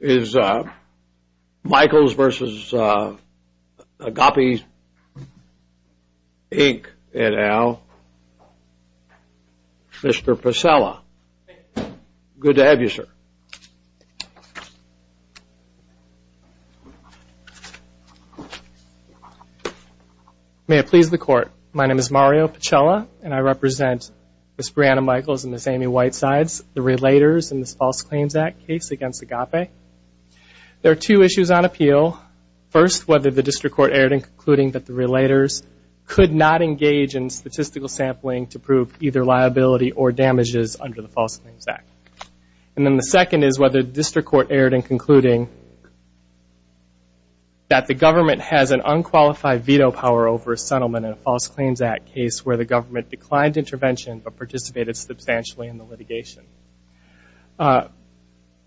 is Michaels v. Agape, Inc., et al., Mr. Pacella. Good to have you, sir. May it please the Court, my name is Mario Pacella, and I represent Ms. Brianna Michaels and Ms. Amy Whitesides, the relators in this False Claims Act case against Agape. There are two issues on appeal. First, whether the district court erred in concluding that the relators could not engage in statistical sampling to prove either liability or damages under the False Claims Act. And then the second is whether the district court erred in concluding that the government has an unqualified veto power over a settlement in a False Claims Act case where the government declined intervention but participated substantially in the litigation.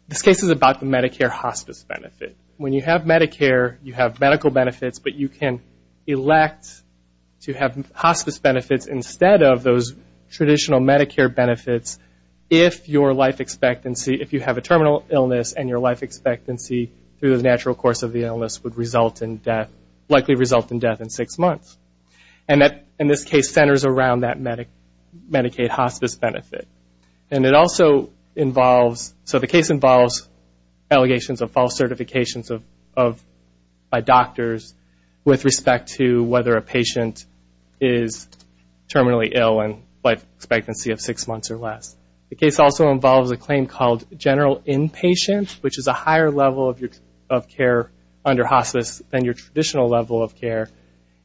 This case is about the Medicare hospice benefit. When you have Medicare, you have medical benefits, but you can elect to have hospice benefits instead of those traditional Medicare benefits if your life expectancy, if you have a terminal illness and your life expectancy through the natural course of the illness would result in death, likely result in death in six months. And that, in this case, centers around that Medicaid hospice benefit. And it also involves, so the case involves allegations of false certifications by doctors with respect to whether a patient is terminally ill and life expectancy of six months or less. The case also involves a claim called general inpatient, which is a higher level of care under hospice than your traditional level of care.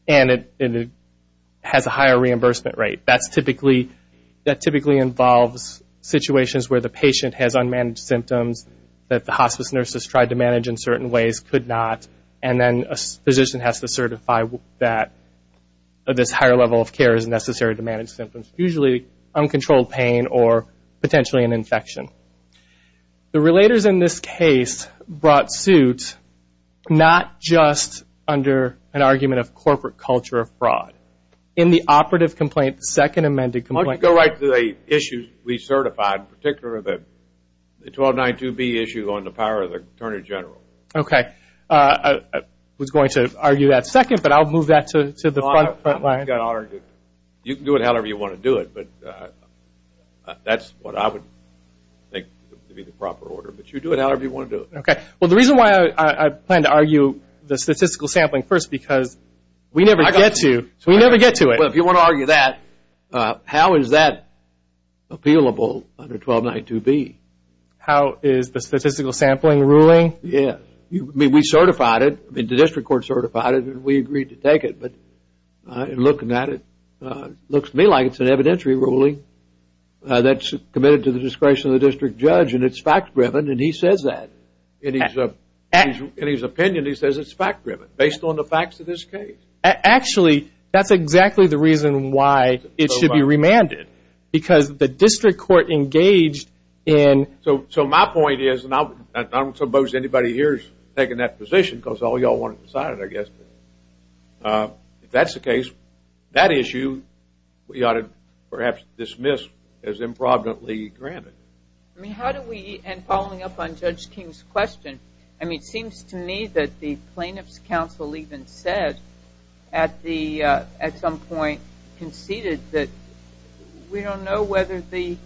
And it has a higher reimbursement rate. That typically involves situations where the patient has unmanaged symptoms that the hospice nurses tried to manage in certain ways could not, and then a physician has to certify that this higher level of care is necessary to manage symptoms, usually uncontrolled pain or potentially an infection. The relators in this case brought suit not just under an argument of corporate culture of fraud. In the operative complaint, the second amended complaint. Let's go right to the issues we certified, in particular the 1292B issue on the power of the Attorney General. Okay. I was going to argue that second, but I'll move that to the front line. You can do it however you want to do it, but that's what I would think to be the proper order. But you do it however you want to do it. Okay. Well, the reason why I plan to argue the statistical sampling first, because we never get to it. Well, if you want to argue that, how is that appealable under 1292B? How is the statistical sampling ruling? Yes. I mean, we certified it. The district court certified it, and we agreed to take it. But looking at it, it looks to me like it's an evidentiary ruling that's committed to the discretion of the district judge, and it's fact-driven, and he says that. In his opinion, he says it's fact-driven based on the facts of this case. Actually, that's exactly the reason why it should be remanded, because the district court engaged in – So my point is, and I don't suppose anybody here is taking that position because all you all want to decide it, I guess. If that's the case, that issue we ought to perhaps dismiss as improvidently granted. I mean, how do we – and following up on Judge King's question, I mean, it seems to me that the plaintiff's counsel even said at some point, conceded that we don't know whether the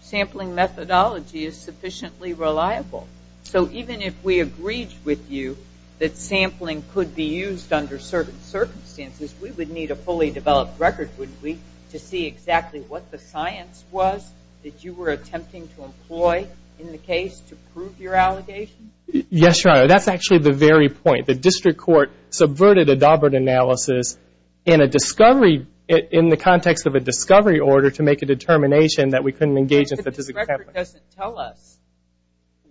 sampling methodology is sufficiently reliable. So even if we agreed with you that sampling could be used under certain circumstances, we would need a fully developed record, wouldn't we, to see exactly what the science was that you were attempting to employ in the case to prove your allegation? Yes, Your Honor. That's actually the very point. The district court subverted a Daubert analysis in a discovery – in the context of a discovery order to make a determination that we couldn't engage in statistical sampling. The district court doesn't tell us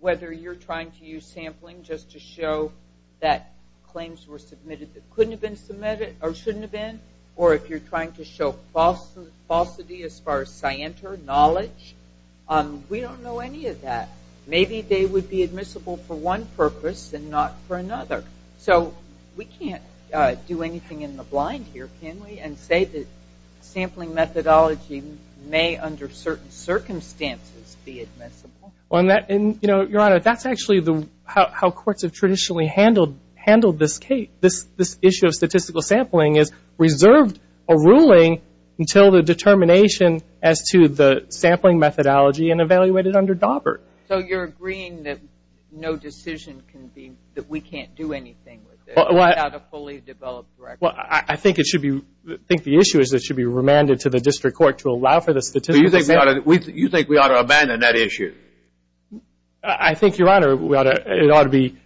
whether you're trying to use sampling just to show that claims were submitted that couldn't have been submitted or shouldn't have been, or if you're trying to show falsity as far as scienter knowledge. We don't know any of that. Maybe they would be admissible for one purpose and not for another. So we can't do anything in the blind here, can we, and say that sampling methodology may, under certain circumstances, be admissible? Your Honor, that's actually how courts have traditionally handled this case. This issue of statistical sampling is reserved a ruling until the determination as to the sampling methodology and evaluated under Daubert. So you're agreeing that no decision can be – that we can't do anything with it without a fully developed record? Well, I think it should be – I think the issue is it should be remanded to the district court to allow for the statistical sampling. So you think we ought to abandon that issue? I think, Your Honor, it ought to be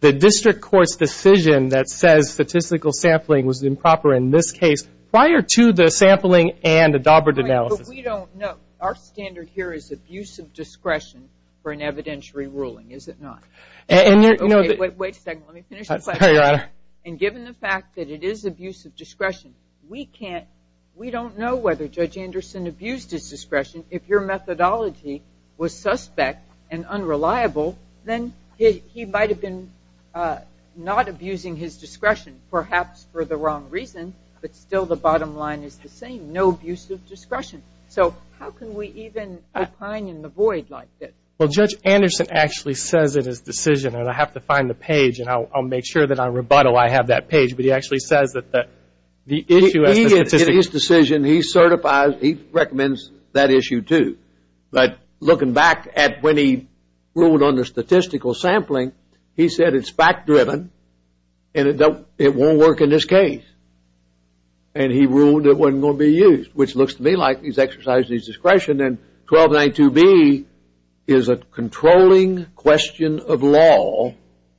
the district court's decision that says statistical sampling was improper in this case prior to the sampling and the Daubert analysis. But we don't know. Our standard here is abusive discretion for an evidentiary ruling, is it not? Wait a second. Let me finish the question. Sorry, Your Honor. And given the fact that it is abusive discretion, we can't – we don't know whether Judge Anderson abused his discretion. If your methodology was suspect and unreliable, then he might have been not abusing his discretion, perhaps for the wrong reason, but still the bottom line is the same, no abusive discretion. So how can we even recline in the void like this? Well, Judge Anderson actually says in his decision – and I have to find the page and I'll make sure that on rebuttal I have that page – but he actually says that the issue as the statistic – In his decision, he certifies – he recommends that issue, too. But looking back at when he ruled on the statistical sampling, he said it's fact-driven and it won't work in this case. And he ruled it wasn't going to be used, which looks to me like he's exercised his discretion. And then 1292B is a controlling question of law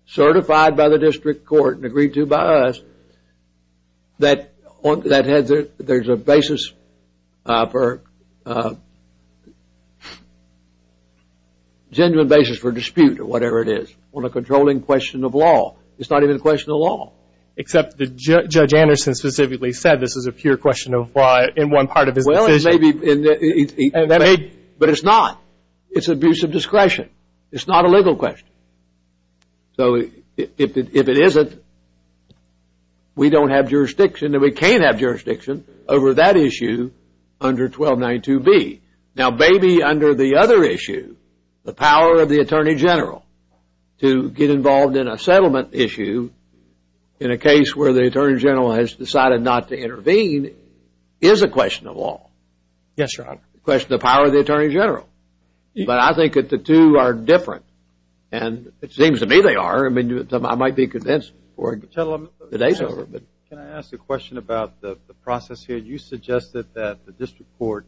certified by the district court and agreed to by us that there's a basis for – genuine basis for dispute or whatever it is on a controlling question of law. It's not even a question of law. Except that Judge Anderson specifically said this is a pure question of law in one part of his decision. He may be – but it's not. It's abuse of discretion. It's not a legal question. So if it isn't, we don't have jurisdiction and we can't have jurisdiction over that issue under 1292B. Now, maybe under the other issue, the power of the Attorney General to get involved in a settlement issue in a case where the Attorney General has decided not to intervene is a question of law. Yes, Your Honor. A question of the power of the Attorney General. But I think that the two are different. And it seems to me they are. I mean, I might be convinced before the day's over. Can I ask a question about the process here? You suggested that the district court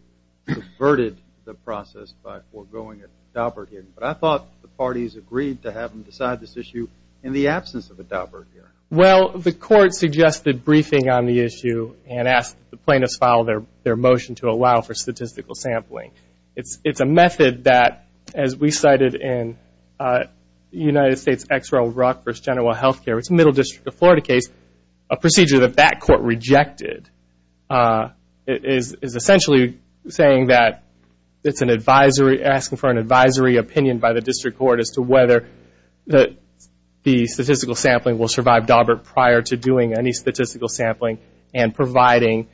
subverted the process by foregoing a Daubert hearing. But I thought the parties agreed to have them decide this issue in the absence of a Daubert hearing. Well, the court suggested briefing on the issue and asked the plaintiffs to file their motion to allow for statistical sampling. It's a method that, as we cited in the United States Exerell Rock v. General Health Care, it's a Middle District of Florida case. A procedure that that court rejected is essentially saying that it's an advisory, asking for an advisory opinion by the district court as to whether the statistical sampling will survive Daubert prior to doing any statistical sampling and providing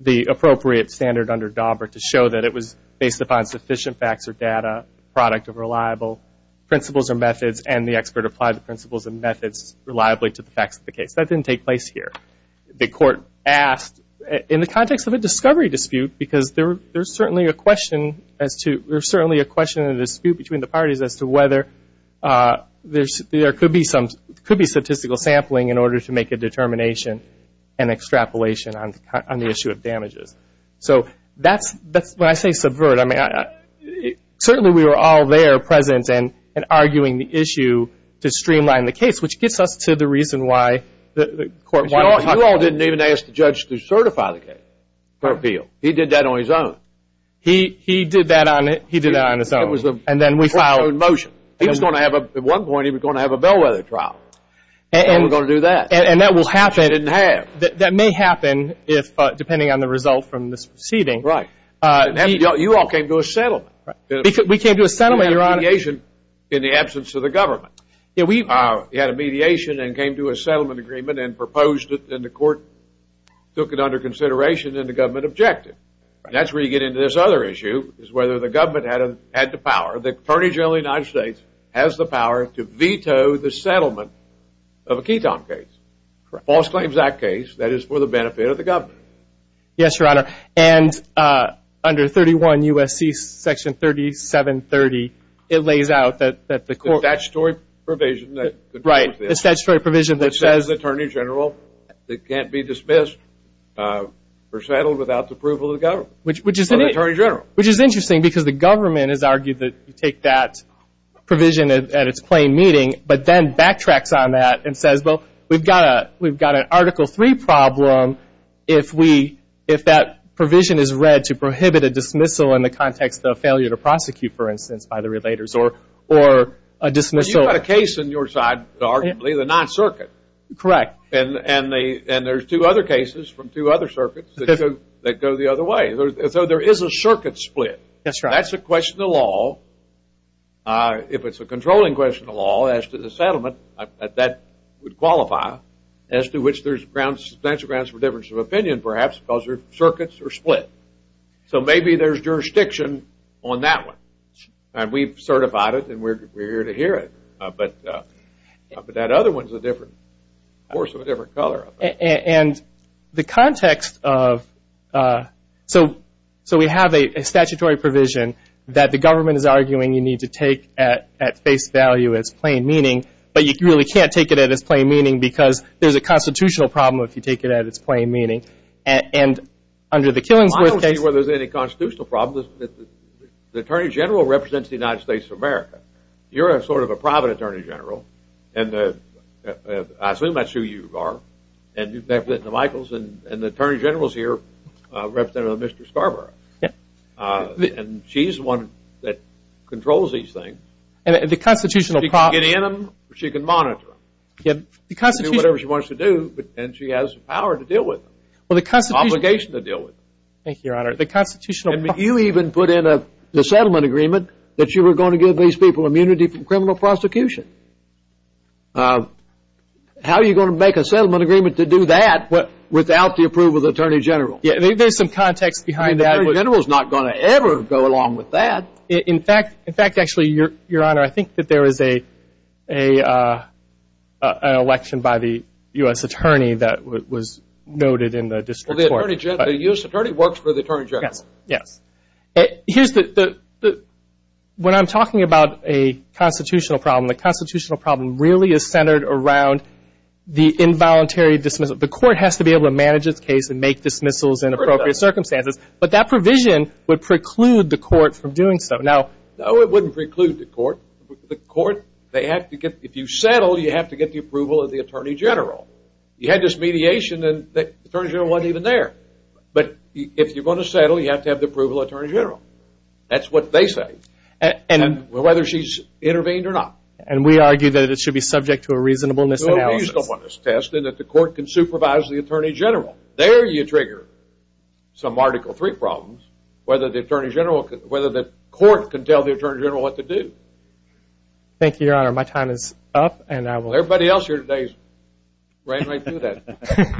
the appropriate standard under Daubert to show that it was based upon sufficient facts or data, product of reliable principles or methods, and the expert applied the principles and methods reliably to the facts of the case. That didn't take place here. The court asked in the context of a discovery dispute, because there's certainly a question as to the dispute between the parties as to whether there could be statistical sampling in order to make a determination and extrapolation on the issue of damages. So that's, when I say subvert, I mean certainly we were all there present and arguing the issue to streamline the case, which gets us to the reason why the court wanted to talk about it. You all didn't even ask the judge to certify the case for appeal. He did that on his own. He did that on his own. And then we filed a motion. He was going to have, at one point, he was going to have a bellwether trial. And we're going to do that. And that will happen. It didn't have. That may happen, depending on the result from this proceeding. Right. You all came to a settlement. We came to a settlement, Your Honor. In the absence of the government. We had a mediation and came to a settlement agreement and proposed it, and the court took it under consideration and the government objected. That's where you get into this other issue, is whether the government had the power. The Attorney General of the United States has the power to veto the settlement of a ketone case, false claims act case that is for the benefit of the government. Yes, Your Honor. And under 31 U.S.C. section 3730, it lays out that the court. The statutory provision. Right. The statutory provision that says. It can't be dismissed or settled without the approval of the government or the Attorney General. Which is interesting because the government has argued that you take that provision at its plain meeting, but then backtracks on that and says, well, we've got an Article III problem if we, if that provision is read to prohibit a dismissal in the context of failure to prosecute, for instance, by the relators or a dismissal. You've got a case on your side, arguably, the Ninth Circuit. Correct. And there's two other cases from two other circuits that go the other way. So there is a circuit split. That's right. That's a question of law. If it's a controlling question of law as to the settlement, that would qualify, as to which there's grounds, substantial grounds for difference of opinion, perhaps, because the circuits are split. So maybe there's jurisdiction on that one. And we've certified it and we're here to hear it. But that other one is a different course of a different color. And the context of so we have a statutory provision that the government is arguing you need to take at face value, at its plain meeting, but you really can't take it at its plain meeting because there's a constitutional problem if you take it at its plain meeting. And under the Killingsworth case. I don't see where there's any constitutional problem. The Attorney General represents the United States of America. You're sort of a private Attorney General. And I assume that's who you are. And you've met with the Michaels. And the Attorney General is here representing Mr. Scarborough. And she's the one that controls these things. And the constitutional problem. She can get in them or she can monitor them. She can do whatever she wants to do and she has the power to deal with them. Well, the constitutional. The obligation to deal with them. Thank you, Your Honor. The constitutional. You even put in a settlement agreement that you were going to give these people immunity from criminal prosecution. How are you going to make a settlement agreement to do that without the approval of the Attorney General? There's some context behind that. The Attorney General is not going to ever go along with that. In fact, actually, Your Honor, I think that there is an election by the U.S. Attorney that was noted in the district court. The U.S. Attorney works for the Attorney General. Yes. When I'm talking about a constitutional problem, the constitutional problem really is centered around the involuntary dismissal. The court has to be able to manage its case and make dismissals in appropriate circumstances. But that provision would preclude the court from doing so. No, it wouldn't preclude the court. If you settle, you have to get the approval of the Attorney General. You had this mediation, and the Attorney General wasn't even there. But if you're going to settle, you have to have the approval of the Attorney General. That's what they say, whether she's intervened or not. And we argue that it should be subject to a reasonableness analysis. A reasonableness test, and that the court can supervise the Attorney General. There you trigger some Article III problems, whether the court can tell the Attorney General what to do. Thank you, Your Honor. My time is up. Everybody else here today ran right through that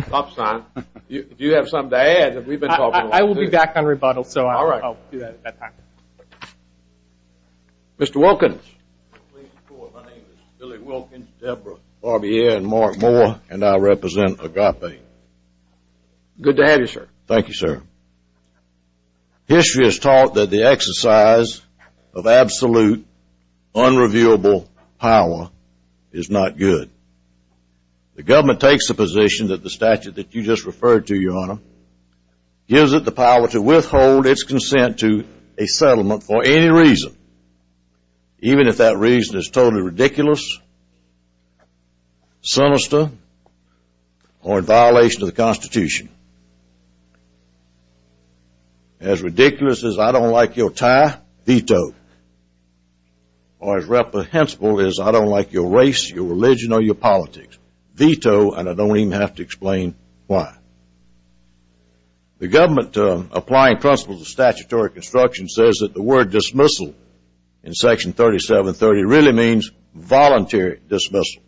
stop sign. Do you have something to add? I will be back on rebuttal, so I'll do that at that time. Mr. Wilkins. My name is Billy Wilkins, Deborah Barbier, and Mark Moore, and I represent Agape. Good to have you, sir. Thank you, sir. History has taught that the exercise of absolute, unreviewable power is not good. The government takes the position that the statute that you just referred to, Your Honor, gives it the power to withhold its consent to a settlement for any reason, even if that reason is totally ridiculous, sinister, or in violation of the Constitution. As ridiculous as I don't like your tie, veto. Or as reprehensible as I don't like your race, your religion, or your politics, veto, and I don't even have to explain why. The government, applying principles of statutory construction, says that the word dismissal in Section 3730 really means voluntary dismissal.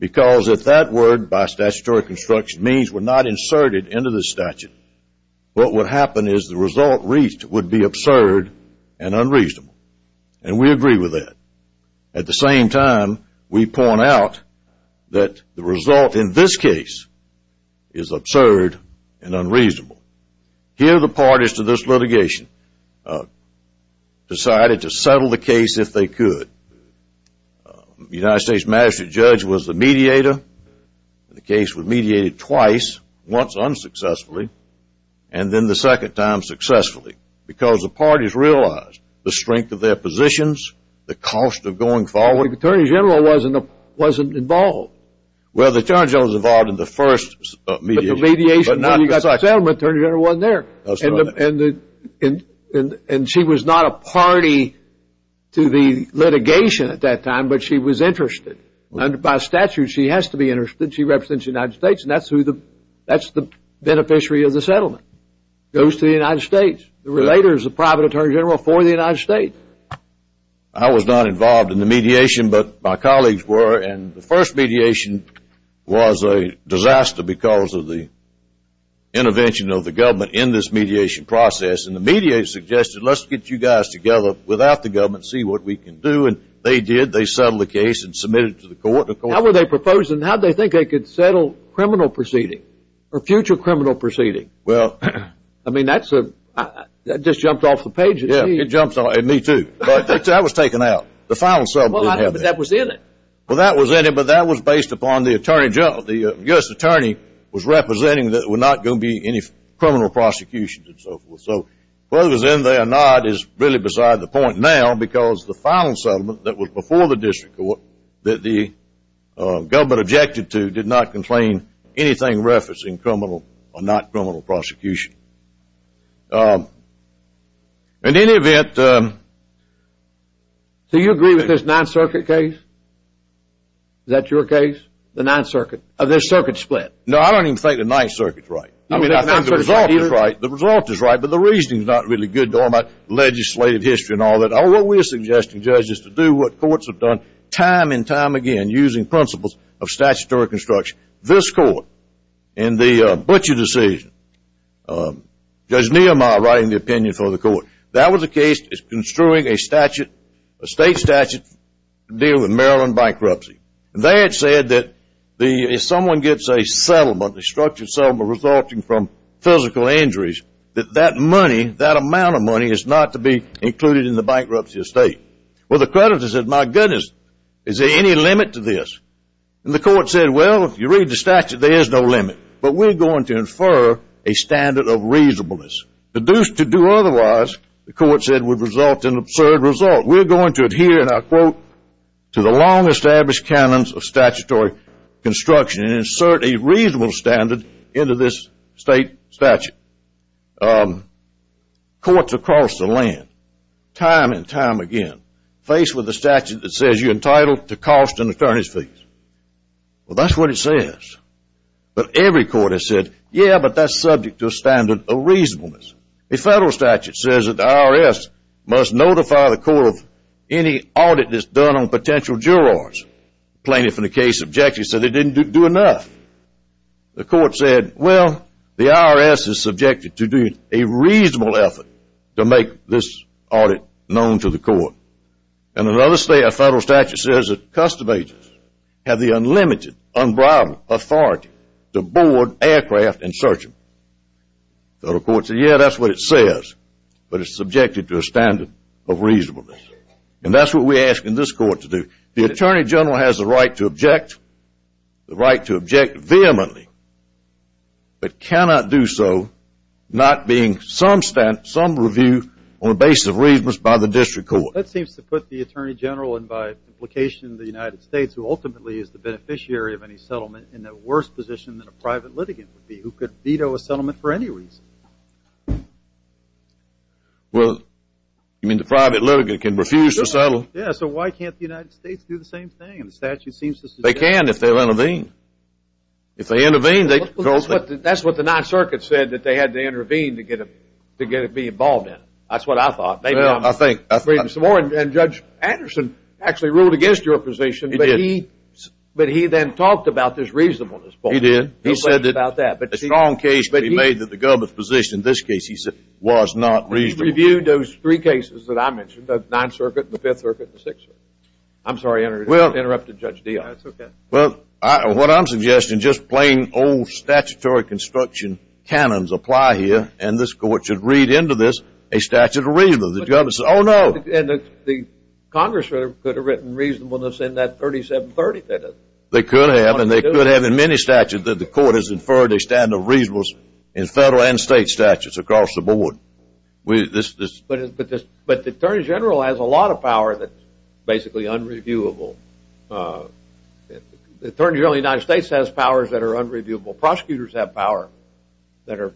Because if that word by statutory construction means we're not inserted into the statute, what would happen is the result reached would be absurd and unreasonable. And we agree with that. At the same time, we point out that the result in this case is absurd and unreasonable. Here the parties to this litigation decided to settle the case if they could. The United States magistrate judge was the mediator. The case was mediated twice, once unsuccessfully, and then the second time successfully, because the parties realized the strength of their positions, the cost of going forward. The Attorney General wasn't involved. Well, the Attorney General was involved in the first mediation. But the mediation, when you got the settlement, the Attorney General wasn't there. And she was not a party to the litigation at that time, but she was interested. By statute, she has to be interested. She represents the United States, and that's the beneficiary of the settlement. It goes to the United States. The relator is the private Attorney General for the United States. I was not involved in the mediation, but my colleagues were. And the first mediation was a disaster because of the intervention of the government in this mediation process. And the media suggested, let's get you guys together without the government, see what we can do. And they did. They settled the case and submitted it to the court. How were they proposing? How did they think they could settle criminal proceeding or future criminal proceeding? Well. I mean, that just jumped off the page at me. Yeah, it jumped off at me, too. But that was taken out. The final settlement didn't have that. But that was in it. Well, that was in it, but that was based upon the Attorney General. The U.S. Attorney was representing that there were not going to be any criminal prosecutions and so forth. So whether it was in there or not is really beside the point now because the final settlement that was before the district court that the government objected to did not contain anything referencing criminal or not criminal prosecution. In any event. So you agree with this Ninth Circuit case? Is that your case? The Ninth Circuit? Of this circuit split? No, I don't even think the Ninth Circuit is right. I mean, the result is right. The result is right, but the reasoning is not really good about legislative history and all that. What we are suggesting, Judge, is to do what courts have done time and time again using principles of statutory construction. This court, in the Butcher decision, Judge Nehemiah writing the opinion for the court, that was a case that was construing a statute, a state statute, to deal with Maryland bankruptcy. They had said that if someone gets a settlement, a structured settlement resulting from physical injuries, that that money, that amount of money is not to be included in the bankruptcy estate. Well, the creditor said, my goodness, is there any limit to this? And the court said, well, if you read the statute, there is no limit. But we're going to infer a standard of reasonableness. To do otherwise, the court said, would result in an absurd result. We're going to adhere, and I quote, to the long-established canons of statutory construction and insert a reasonable standard into this state statute. Courts across the land, time and time again, faced with a statute that says you're entitled to cost and attorneys' fees. Well, that's what it says. But every court has said, yeah, but that's subject to a standard of reasonableness. A federal statute says that the IRS must notify the court of any audit that's done on potential jurors. Plaintiff in the case objected, said they didn't do enough. The court said, well, the IRS is subjected to do a reasonable effort to make this audit known to the court. And another federal statute says that custom agents have the unlimited, unbridled authority to board aircraft and search them. The court said, yeah, that's what it says. But it's subjected to a standard of reasonableness. And that's what we're asking this court to do. The attorney general has the right to object, the right to object vehemently, but cannot do so not being some review on the basis of reasons by the district court. Well, that seems to put the attorney general, and by implication, the United States, who ultimately is the beneficiary of any settlement in a worse position than a private litigant would be, who could veto a settlement for any reason. Well, you mean the private litigant can refuse to settle? Yeah, so why can't the United States do the same thing? The statute seems to suggest that. They can if they intervene. If they intervene, they can vote. That's what the Ninth Circuit said, that they had to intervene to get to be involved in it. That's what I thought. Well, I think. And Judge Anderson actually ruled against your position. He did. But he then talked about this reasonableness point. He did. He said that a strong case could be made that the government's position in this case, he said, was not reasonable. He reviewed those three cases that I mentioned, the Ninth Circuit, the Fifth Circuit, and the Sixth Circuit. I'm sorry, I interrupted Judge Dionne. That's okay. Well, what I'm suggesting, just plain old statutory construction canons apply here, and this court should read into this a statute of reasonableness. Oh, no. And the Congress could have written reasonableness in that 3730. They could have, and they could have in many statutes that the court has inferred a standard of reasonableness in federal and state statutes across the board. But the Attorney General has a lot of power that's basically unreviewable. The Attorney General of the United States has powers that are unreviewable. Prosecutors have power that are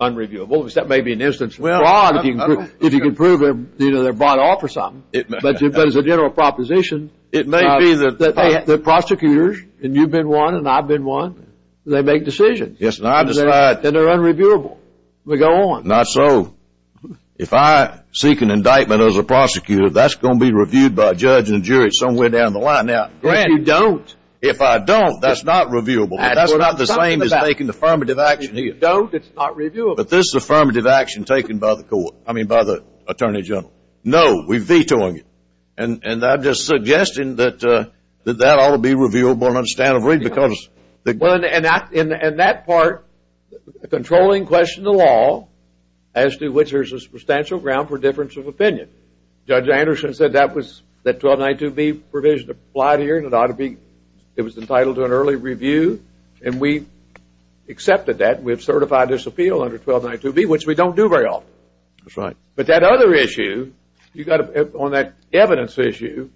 unreviewable. That may be an instance of fraud if you can prove they're bought off or something. But as a general proposition, the prosecutors, and you've been one and I've been one, they make decisions. Yes, and I decide. And they're unreviewable. We go on. Not so. If I seek an indictment as a prosecutor, that's going to be reviewed by a judge and a jury somewhere down the line. Now, Grant. If you don't. If I don't, that's not reviewable. That's not the same as making affirmative action here. If you don't, it's not reviewable. But this is affirmative action taken by the court, I mean by the Attorney General. No, we're vetoing it. And I'm just suggesting that that ought to be reviewable in a standard of reasonableness. And that part, controlling question of law, as to which there's a substantial ground for difference of opinion. Judge Anderson said that 1292B provision applied here and it was entitled to an early review. And we accepted that. We have certified this appeal under 1292B, which we don't do very often. That's right. But that other issue, on that evidence issue,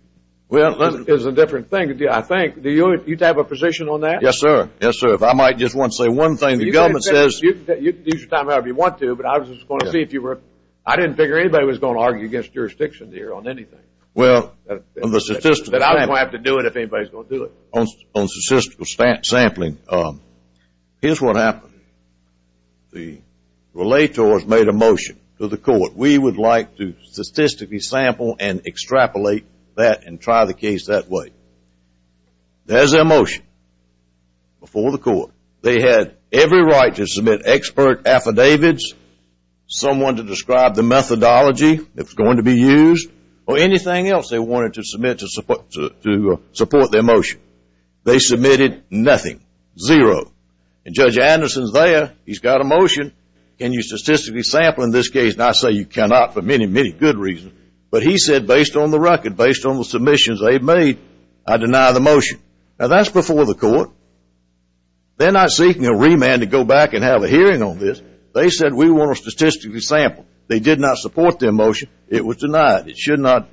is a different thing, I think. Do you have a position on that? Yes, sir. Yes, sir. If I might just want to say one thing. The government says. You can use your time however you want to, but I was just going to see if you were. I didn't figure anybody was going to argue against jurisdiction here on anything. Well, on the statistical. But I don't have to do it if anybody's going to do it. On statistical sampling. Here's what happened. The relators made a motion to the court. We would like to statistically sample and extrapolate that and try the case that way. There's their motion before the court. They had every right to submit expert affidavits, someone to describe the methodology that was going to be used, or anything else they wanted to submit to support their motion. They submitted nothing. Zero. And Judge Anderson's there. He's got a motion. Can you statistically sample in this case? And I say you cannot for many, many good reasons. But he said based on the record, based on the submissions they've made, I deny the motion. Now, that's before the court. They're not seeking a remand to go back and have a hearing on this. They said we want to statistically sample. They did not support their motion. It was denied. It should not.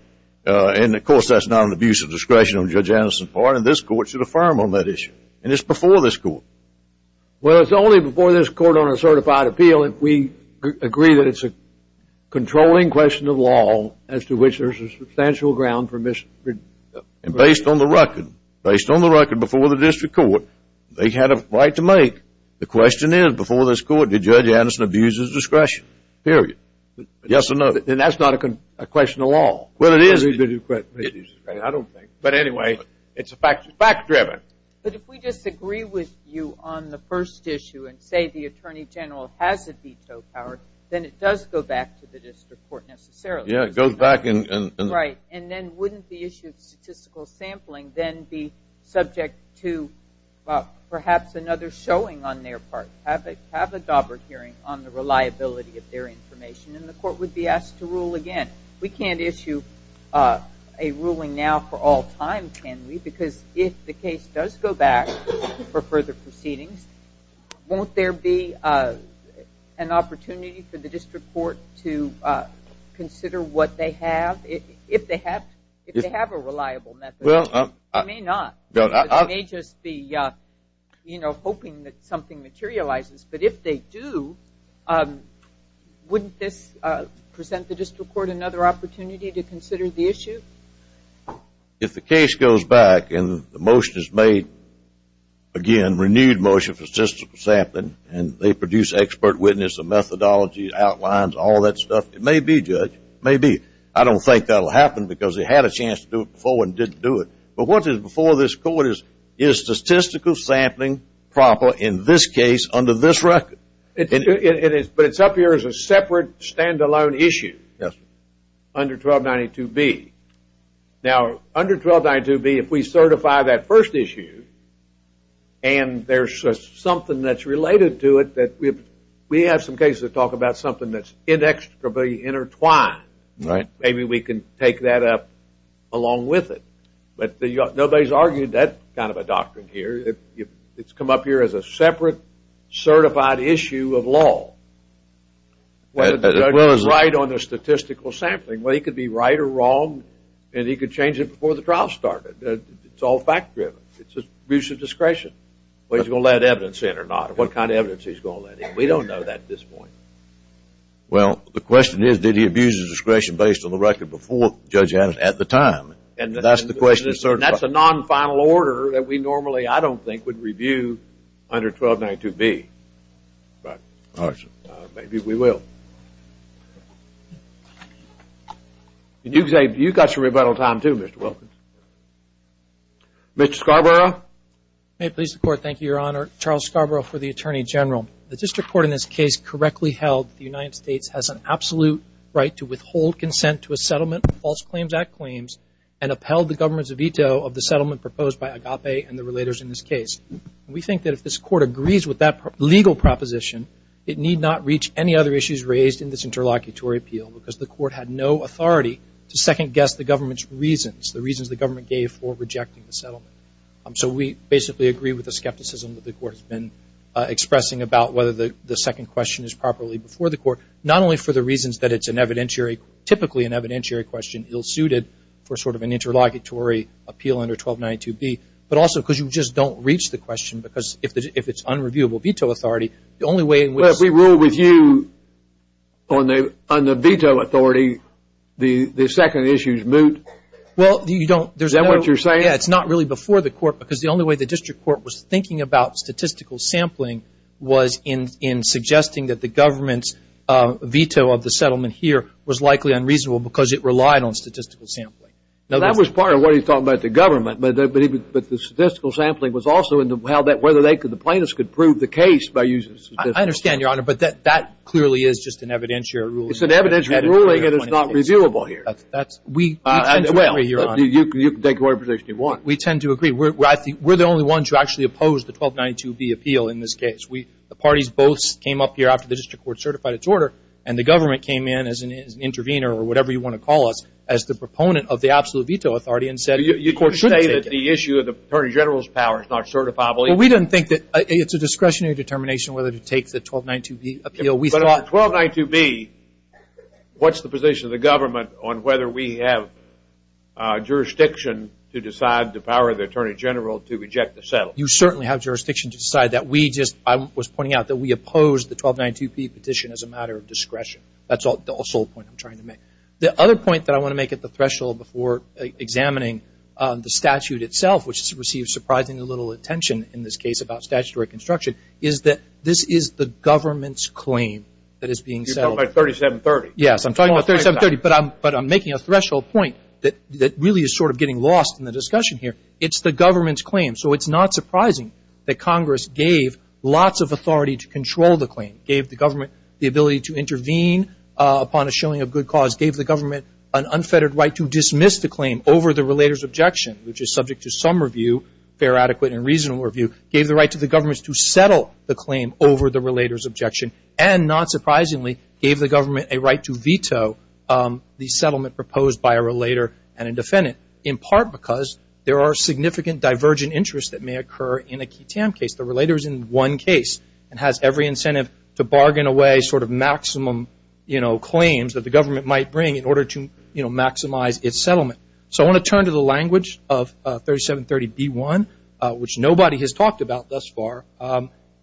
And, of course, that's not an abuse of discretion on Judge Anderson's part. And this court should affirm on that issue. And it's before this court. Well, it's only before this court on a certified appeal if we agree that it's a controlling question of law as to which there's a substantial ground for misrepresentation. And based on the record, based on the record before the district court, they had a right to make. The question is, before this court, did Judge Anderson abuse his discretion? Period. Yes or no? And that's not a question of law. Well, it is. I don't think. But, anyway, it's fact-driven. But if we disagree with you on the first issue and say the attorney general has a veto power, then it does go back to the district court necessarily. Yeah, it goes back. Right. And then wouldn't the issue of statistical sampling then be subject to perhaps another showing on their part, have a dauber hearing on the reliability of their information, and the court would be asked to rule again? Because if the case does go back for further proceedings, won't there be an opportunity for the district court to consider what they have? If they have a reliable method. It may not. It may just be, you know, hoping that something materializes. But if they do, wouldn't this present the district court another opportunity to consider the issue? If the case goes back and the motion is made, again, renewed motion for statistical sampling, and they produce expert witness, a methodology, outlines, all that stuff, it may be, Judge. It may be. I don't think that will happen because they had a chance to do it before and didn't do it. But what is before this court is, is statistical sampling proper in this case under this record? But it's up here as a separate, stand-alone issue under 1292B. Now, under 1292B, if we certify that first issue and there's something that's related to it, we have some cases that talk about something that's inextricably intertwined. Maybe we can take that up along with it. But nobody's argued that kind of a doctrine here. It's come up here as a separate, certified issue of law. Whether the judge was right on the statistical sampling. Well, he could be right or wrong, and he could change it before the trial started. It's all fact-driven. It's an abuse of discretion. Whether he's going to let evidence in or not, what kind of evidence he's going to let in. We don't know that at this point. Well, the question is, did he abuse his discretion based on the record before Judge Adams at the time? And that's the question. That's a non-final order that we normally, I don't think, would review under 1292B. But maybe we will. You've got your rebuttal time, too, Mr. Wilkins. Mr. Scarborough. May it please the Court. Thank you, Your Honor. Charles Scarborough for the Attorney General. The district court in this case correctly held that the United States has an absolute right to withhold consent to a settlement of False Claims Act claims and upheld the government's veto of the settlement proposed by Agape and the relators in this case. We think that if this Court agrees with that legal proposition, it need not reach any other issues raised in this interlocutory appeal, because the Court had no authority to second-guess the government's reasons, the reasons the government gave for rejecting the settlement. So we basically agree with the skepticism that the Court has been expressing about whether the second question is properly before the Court, not only for the reasons that it's an evidentiary, typically an evidentiary question, ill-suited for sort of an interlocutory appeal under 1292B, but also because you just don't reach the question because if it's unreviewable veto authority, the only way in which it's unreviewable. Well, if we rule with you on the veto authority, the second issue is moot. Well, you don't. Is that what you're saying? Yeah, it's not really before the Court because the only way the district court was thinking about statistical sampling was in suggesting that the government's veto of the settlement here was likely unreasonable because it relied on statistical sampling. That was part of what he thought about the government, but the statistical sampling was also whether the plaintiffs could prove the case by using statistical sampling. I understand, Your Honor, but that clearly is just an evidentiary ruling. It's an evidentiary ruling and it's not reviewable here. We tend to agree, Your Honor. You can take whatever position you want. We tend to agree. We're the only ones who actually oppose the 1292B appeal in this case. The parties both came up here after the district court certified its order and the government came in as an intervener or whatever you want to call us as the proponent of the absolute veto authority and said you shouldn't take it. You say that the issue of the Attorney General's power is not certifiable. Well, we didn't think that. It's a discretionary determination whether to take the 1292B appeal. But on the 1292B, what's the position of the government on whether we have jurisdiction to decide the power of the Attorney General to reject the settlement? You certainly have jurisdiction to decide that. I was pointing out that we opposed the 1292B petition as a matter of discretion. That's the sole point I'm trying to make. The other point that I want to make at the threshold before examining the statute itself, which has received surprisingly little attention in this case about statutory construction, is that this is the government's claim that is being settled. You're talking about 3730. Yes, I'm talking about 3730. But I'm making a threshold point that really is sort of getting lost in the discussion here. It's the government's claim. So it's not surprising that Congress gave lots of authority to control the claim, gave the government the ability to intervene upon a shilling of good cause, gave the government an unfettered right to dismiss the claim over the relator's objection, which is subject to some review, fair, adequate, and reasonable review, gave the right to the government to settle the claim over the relator's objection, and not surprisingly gave the government a right to veto the settlement proposed by a relator and a defendant in part because there are significant divergent interests that may occur in a QITAM case. The relator is in one case and has every incentive to bargain away sort of maximum, you know, claims that the government might bring in order to, you know, maximize its settlement. So I want to turn to the language of 3730B1, which nobody has talked about thus far,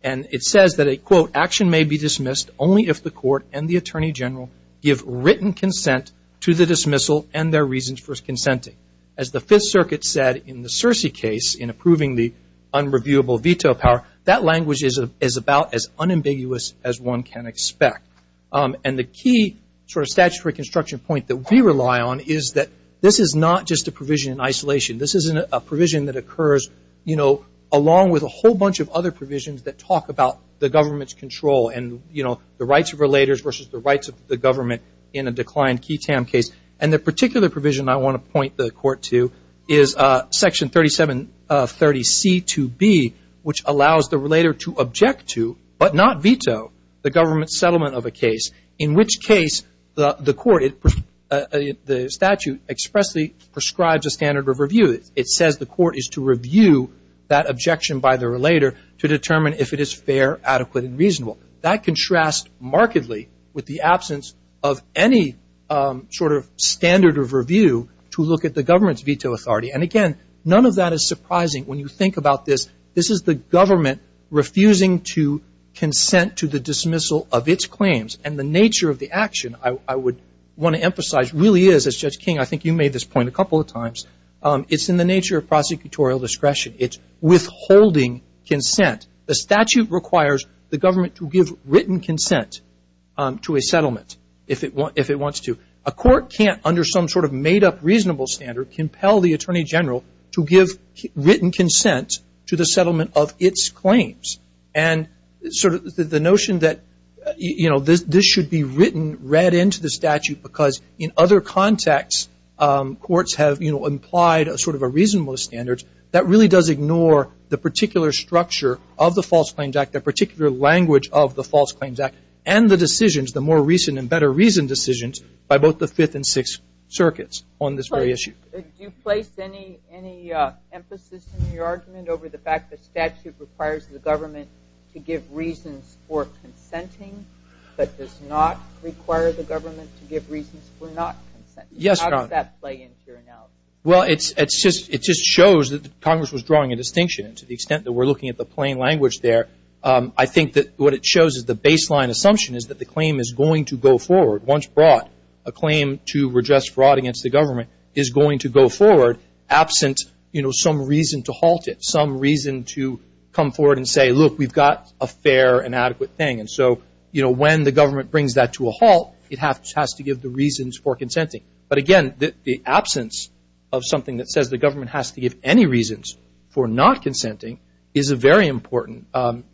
and it says that a, quote, action may be dismissed only if the court and the attorney general give written consent to the dismissal and their reasons for consenting. As the Fifth Circuit said in the Searcy case in approving the unreviewable veto power, that language is about as unambiguous as one can expect. And the key sort of statutory construction point that we rely on is that this is not just a provision in isolation. This is a provision that occurs, you know, along with a whole bunch of other provisions that talk about the government's control and, you know, the rights of relators versus the rights of the government in a declined QITAM case. And the particular provision I want to point the court to is Section 3730C2B, which allows the relator to object to but not veto the government's settlement of a case, in which case the court, the statute expressly prescribes a standard of review. It says the court is to review that objection by the relator to determine if it is fair, adequate, and reasonable. That contrasts markedly with the absence of any sort of standard of review to look at the government's veto authority. And, again, none of that is surprising. When you think about this, this is the government refusing to consent to the dismissal of its claims. And the nature of the action I would want to emphasize really is, as Judge King, I think you made this point a couple of times, it's in the nature of prosecutorial discretion. It's withholding consent. The statute requires the government to give written consent to a settlement if it wants to. A court can't, under some sort of made-up reasonable standard, compel the Attorney General to give written consent to the settlement of its claims. And sort of the notion that, you know, this should be written, read into the statute, because in other contexts courts have, you know, implied sort of a reasonable standard, that really does ignore the particular structure of the False Claims Act, the particular language of the False Claims Act, and the decisions, the more recent and better reasoned decisions by both the Fifth and Sixth Circuits on this very issue. Do you place any emphasis in your argument over the fact the statute requires the government to give reasons for consenting, but does not require the government to give reasons for not consenting? Yes, Your Honor. How does that play into your analysis? Well, it just shows that Congress was drawing a distinction. And to the extent that we're looking at the plain language there, I think that what it shows is the baseline assumption is that the claim is going to go forward once brought. A claim to redress fraud against the government is going to go forward absent, you know, some reason to halt it, some reason to come forward and say, look, we've got a fair and adequate thing. And so, you know, when the government brings that to a halt, it has to give the reasons for consenting. But again, the absence of something that says the government has to give any reasons for not consenting is a very important,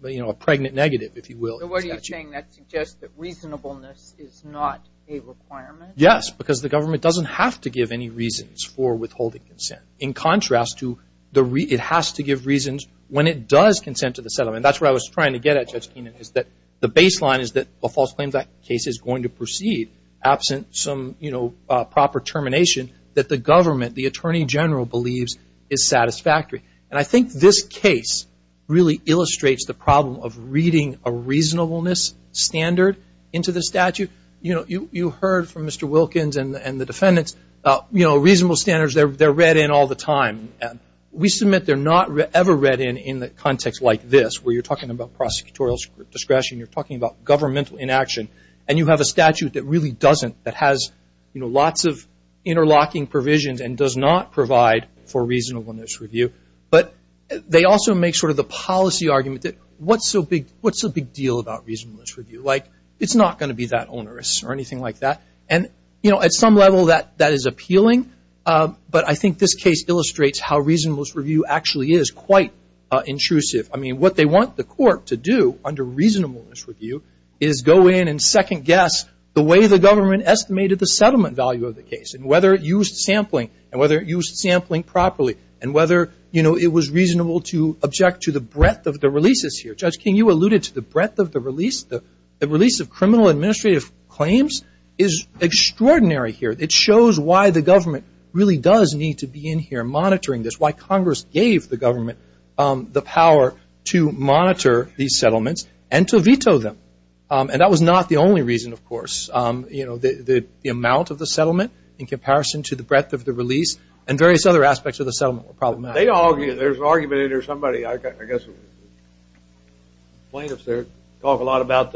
you know, a pregnant negative, if you will. So what are you saying? That suggests that reasonableness is not a requirement? Yes, because the government doesn't have to give any reasons for withholding consent, in contrast to it has to give reasons when it does consent to the settlement. That's what I was trying to get at, Judge Keenan, is that the baseline is that a false claims case is going to proceed absent some, you know, proper termination that the government, the Attorney General, believes is satisfactory. And I think this case really illustrates the problem of reading a reasonableness standard into the statute. You know, you heard from Mr. Wilkins and the defendants, you know, reasonable standards, they're read in all the time. We submit they're not ever read in in the context like this, where you're talking about prosecutorial discretion, you're talking about governmental inaction, and you have a statute that really doesn't, that has, you know, but they also make sort of the policy argument that what's so big, what's the big deal about reasonableness review? Like, it's not going to be that onerous or anything like that. And, you know, at some level that is appealing, but I think this case illustrates how reasonableness review actually is quite intrusive. I mean, what they want the court to do under reasonableness review is go in and second guess the way the government estimated the settlement value of the case, and whether it used sampling, and whether it used sampling properly, and whether, you know, it was reasonable to object to the breadth of the releases here. Judge King, you alluded to the breadth of the release. The release of criminal administrative claims is extraordinary here. It shows why the government really does need to be in here monitoring this, why Congress gave the government the power to monitor these settlements and to veto them. And that was not the only reason, of course. You know, the amount of the settlement in comparison to the breadth of the release and various other aspects of the settlement were problematic. There's an argument or somebody, I guess plaintiffs there, talk a lot about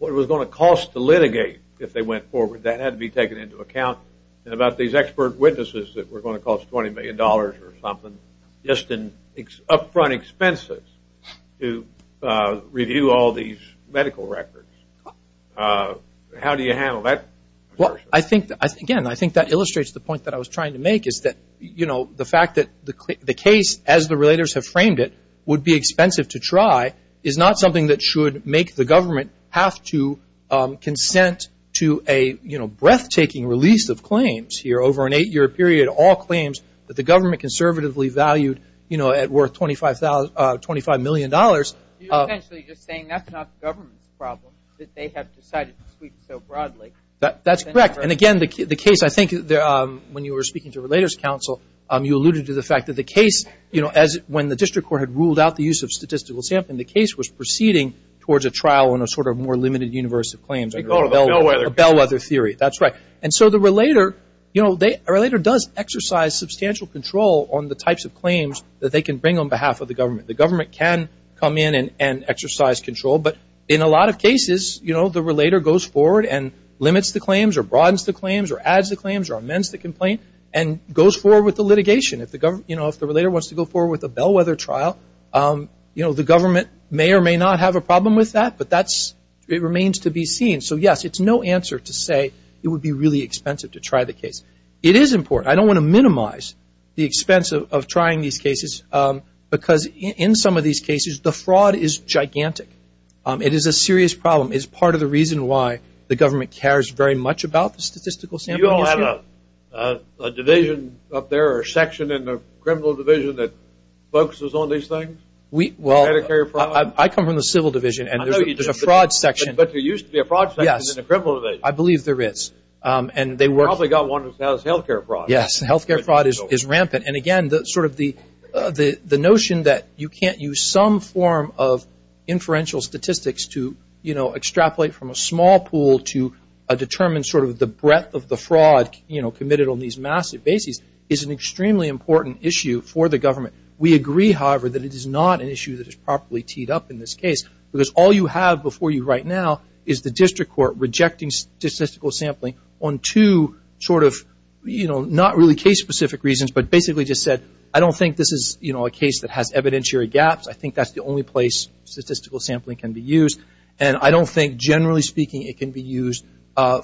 what it was going to cost to litigate if they went forward. That had to be taken into account. And about these expert witnesses that were going to cost $20 million or something just in upfront expenses to review all these medical records. How do you handle that? Well, I think, again, I think that illustrates the point that I was trying to make is that, you know, the fact that the case as the relators have framed it would be expensive to try is not something that should make the government have to consent to a, you know, breathtaking release of claims here over an eight-year period, all claims that the government conservatively valued, you know, at worth $25 million. You're essentially just saying that's not the government's problem, that they have decided to sweep so broadly. That's correct. And, again, the case, I think, when you were speaking to Relators Council, you alluded to the fact that the case, you know, as when the district court had ruled out the use of statistical sampling, the case was proceeding towards a trial on a sort of more limited universe of claims. A bellwether. A bellwether theory. That's right. And so the relator, you know, a relator does exercise substantial control on the types of claims that they can bring on behalf of the government. The government can come in and exercise control. But in a lot of cases, you know, the relator goes forward and limits the claims or broadens the claims or adds the claims or amends the complaint and goes forward with the litigation. You know, if the relator wants to go forward with a bellwether trial, you know, the government may or may not have a problem with that, but it remains to be seen. So, yes, it's no answer to say it would be really expensive to try the case. It is important. I don't want to minimize the expense of trying these cases because in some of these cases, the fraud is gigantic. It is a serious problem. It's part of the reason why the government cares very much about the statistical sampling issue. You don't have a division up there or a section in the criminal division that focuses on these things? Well, I come from the civil division and there's a fraud section. But there used to be a fraud section in the criminal division. Yes, I believe there is. You probably got one that does health care fraud. Yes, health care fraud is rampant. And, again, sort of the notion that you can't use some form of inferential statistics to, you know, extrapolate from a small pool to determine sort of the breadth of the fraud, you know, committed on these massive bases is an extremely important issue for the government. We agree, however, that it is not an issue that is properly teed up in this case because all you have before you right now is the district court rejecting statistical sampling on two sort of, you know, not really case-specific reasons but basically just said, I don't think this is, you know, a case that has evidentiary gaps. I think that's the only place statistical sampling can be used. And I don't think, generally speaking, it can be used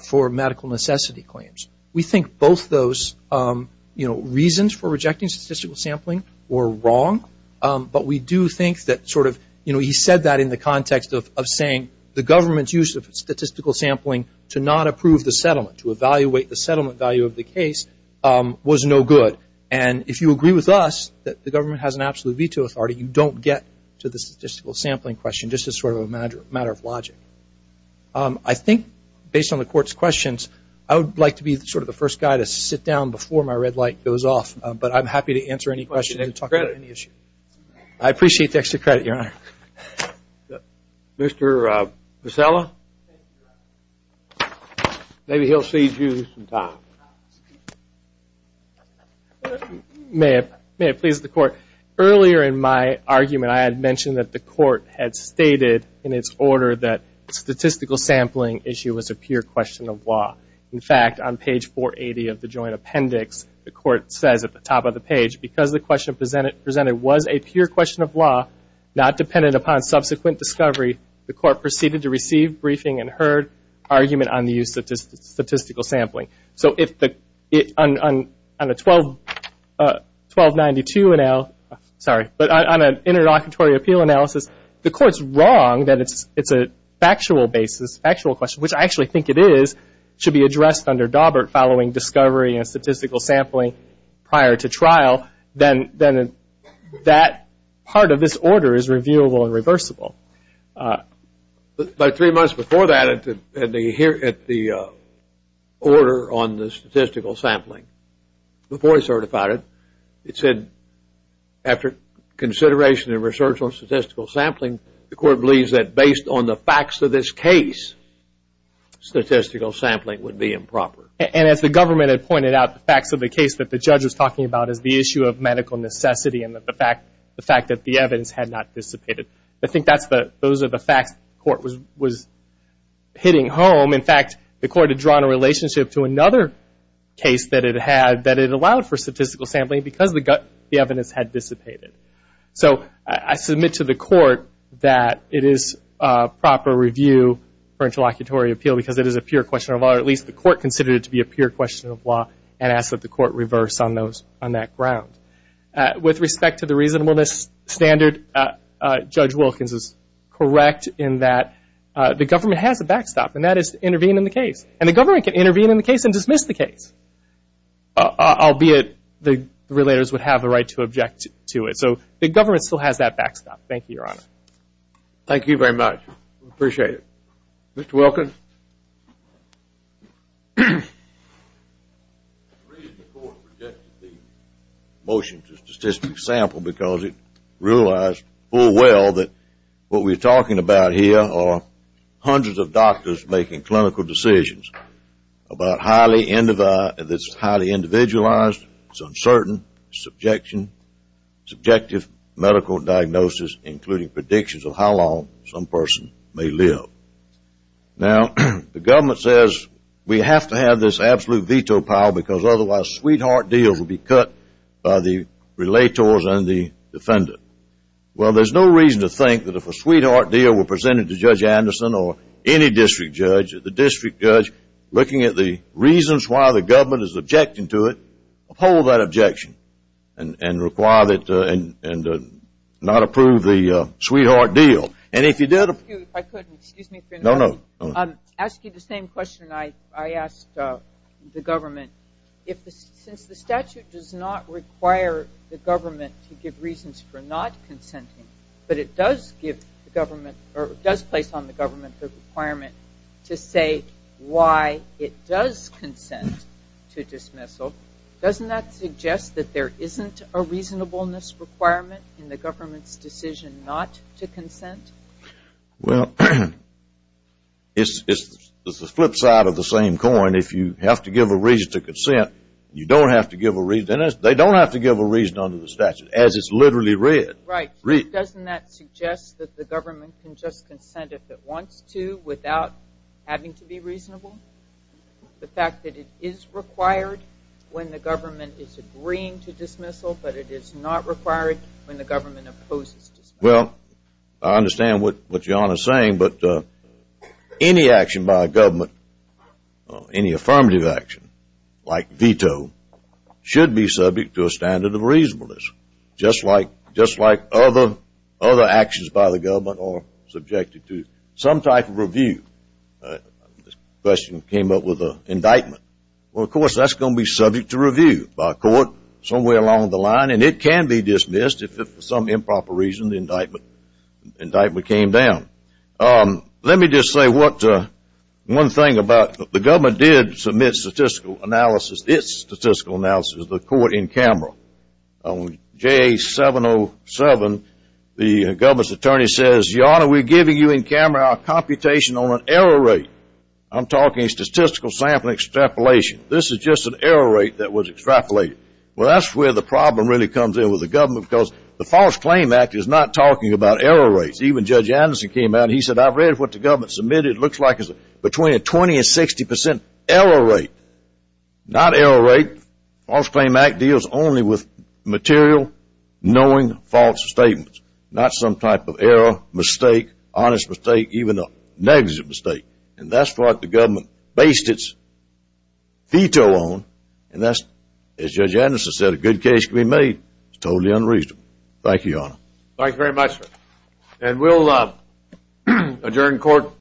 for medical necessity claims. We think both those, you know, reasons for rejecting statistical sampling were wrong. But we do think that sort of, you know, he said that in the context of saying the government's use of statistical sampling to not approve the settlement, to evaluate the settlement value of the case was no good. And if you agree with us that the government has an absolute veto authority, you don't get to the statistical sampling question, just as sort of a matter of logic. I think, based on the court's questions, I would like to be sort of the first guy to sit down before my red light goes off, but I'm happy to answer any questions and talk about any issue. I appreciate the extra credit, Your Honor. Mr. Pasella? Maybe he'll cede you some time. May I please, the court? Earlier in my argument, I had mentioned that the court had stated in its order that statistical sampling issue was a pure question of law. In fact, on page 480 of the joint appendix, the court says at the top of the page, because the question presented was a pure question of law, not dependent upon subsequent discovery, the court proceeded to receive, briefing, and heard argument on the use of statistical sampling. So on a 1292, sorry, but on an interlocutory appeal analysis, the court's wrong that it's a factual question, which I actually think it is, should be addressed under Daubert following discovery and statistical sampling prior to trial, then that part of this order is reviewable and reversible. About three months before that, at the order on the statistical sampling, before he certified it, it said, after consideration and research on statistical sampling, the court believes that based on the facts of this case, statistical sampling would be improper. And as the government had pointed out, the facts of the case that the judge was talking about is the issue of medical necessity and the fact that the evidence had not dissipated. I think those are the facts the court was hitting home. In fact, the court had drawn a relationship to another case that it allowed for statistical sampling because the evidence had dissipated. So I submit to the court that it is proper review for interlocutory appeal because it is a pure question of law, or at least the court considered it to be a pure question of law, and asked that the court reverse on that ground. With respect to the reasonableness standard, Judge Wilkins is correct in that the government has a backstop, and that is to intervene in the case. And the government can intervene in the case and dismiss the case, albeit the relators would have the right to object to it. So the government still has that backstop. Thank you, Your Honor. Thank you very much. We appreciate it. Mr. Wilkins? The reason the court rejected the motion to statistical sample because it realized full well that what we are talking about here are hundreds of doctors making clinical decisions about highly individualized, uncertain, subjective medical diagnosis, including predictions of how long some person may live. Now, the government says we have to have this absolute veto power because otherwise sweetheart deals will be cut by the relators and the defendant. Well, there's no reason to think that if a sweetheart deal were presented to Judge Anderson or any district judge, that the district judge, looking at the reasons why the government is objecting to it, uphold that objection and require that and not approve the sweetheart deal. And if you did... Excuse me. No, no. I'm asking the same question I asked the government. Since the statute does not require the government to give reasons for not consenting, but it does place on the government the requirement to say why it does consent to dismissal, doesn't that suggest that there isn't a reasonableness requirement in the government's decision not to consent? Well, it's the flip side of the same coin. If you have to give a reason to consent, you don't have to give a reason. They don't have to give a reason under the statute, as it's literally read. Right. Doesn't that suggest that the government can just consent if it wants to without having to be reasonable? The fact that it is required when the government is agreeing to dismissal, but it is not required when the government opposes dismissal? Well, I understand what John is saying. But any action by a government, any affirmative action like veto, should be subject to a standard of reasonableness, just like other actions by the government are subjected to some type of review. This question came up with an indictment. Well, of course, that's going to be subject to review by a court somewhere along the line, and it can be dismissed if for some improper reason the indictment came down. Let me just say one thing about the government did submit statistical analysis, its statistical analysis to the court in camera. On JA 707, the government's attorney says, Your Honor, we're giving you in camera our computation on an error rate. I'm talking statistical sampling extrapolation. This is just an error rate that was extrapolated. Well, that's where the problem really comes in with the government, because the False Claim Act is not talking about error rates. Even Judge Anderson came out, and he said, I've read what the government submitted. It looks like it's between a 20% and 60% error rate. Not error rate. False Claim Act deals only with material, knowing, false statements, not some type of error, mistake, honest mistake, even a negligent mistake. And that's what the government based its veto on, and that's, as Judge Anderson said, a good case can be made. It's totally unreasonable. Thank you, Your Honor. Thank you very much, sir. And we'll adjourn court.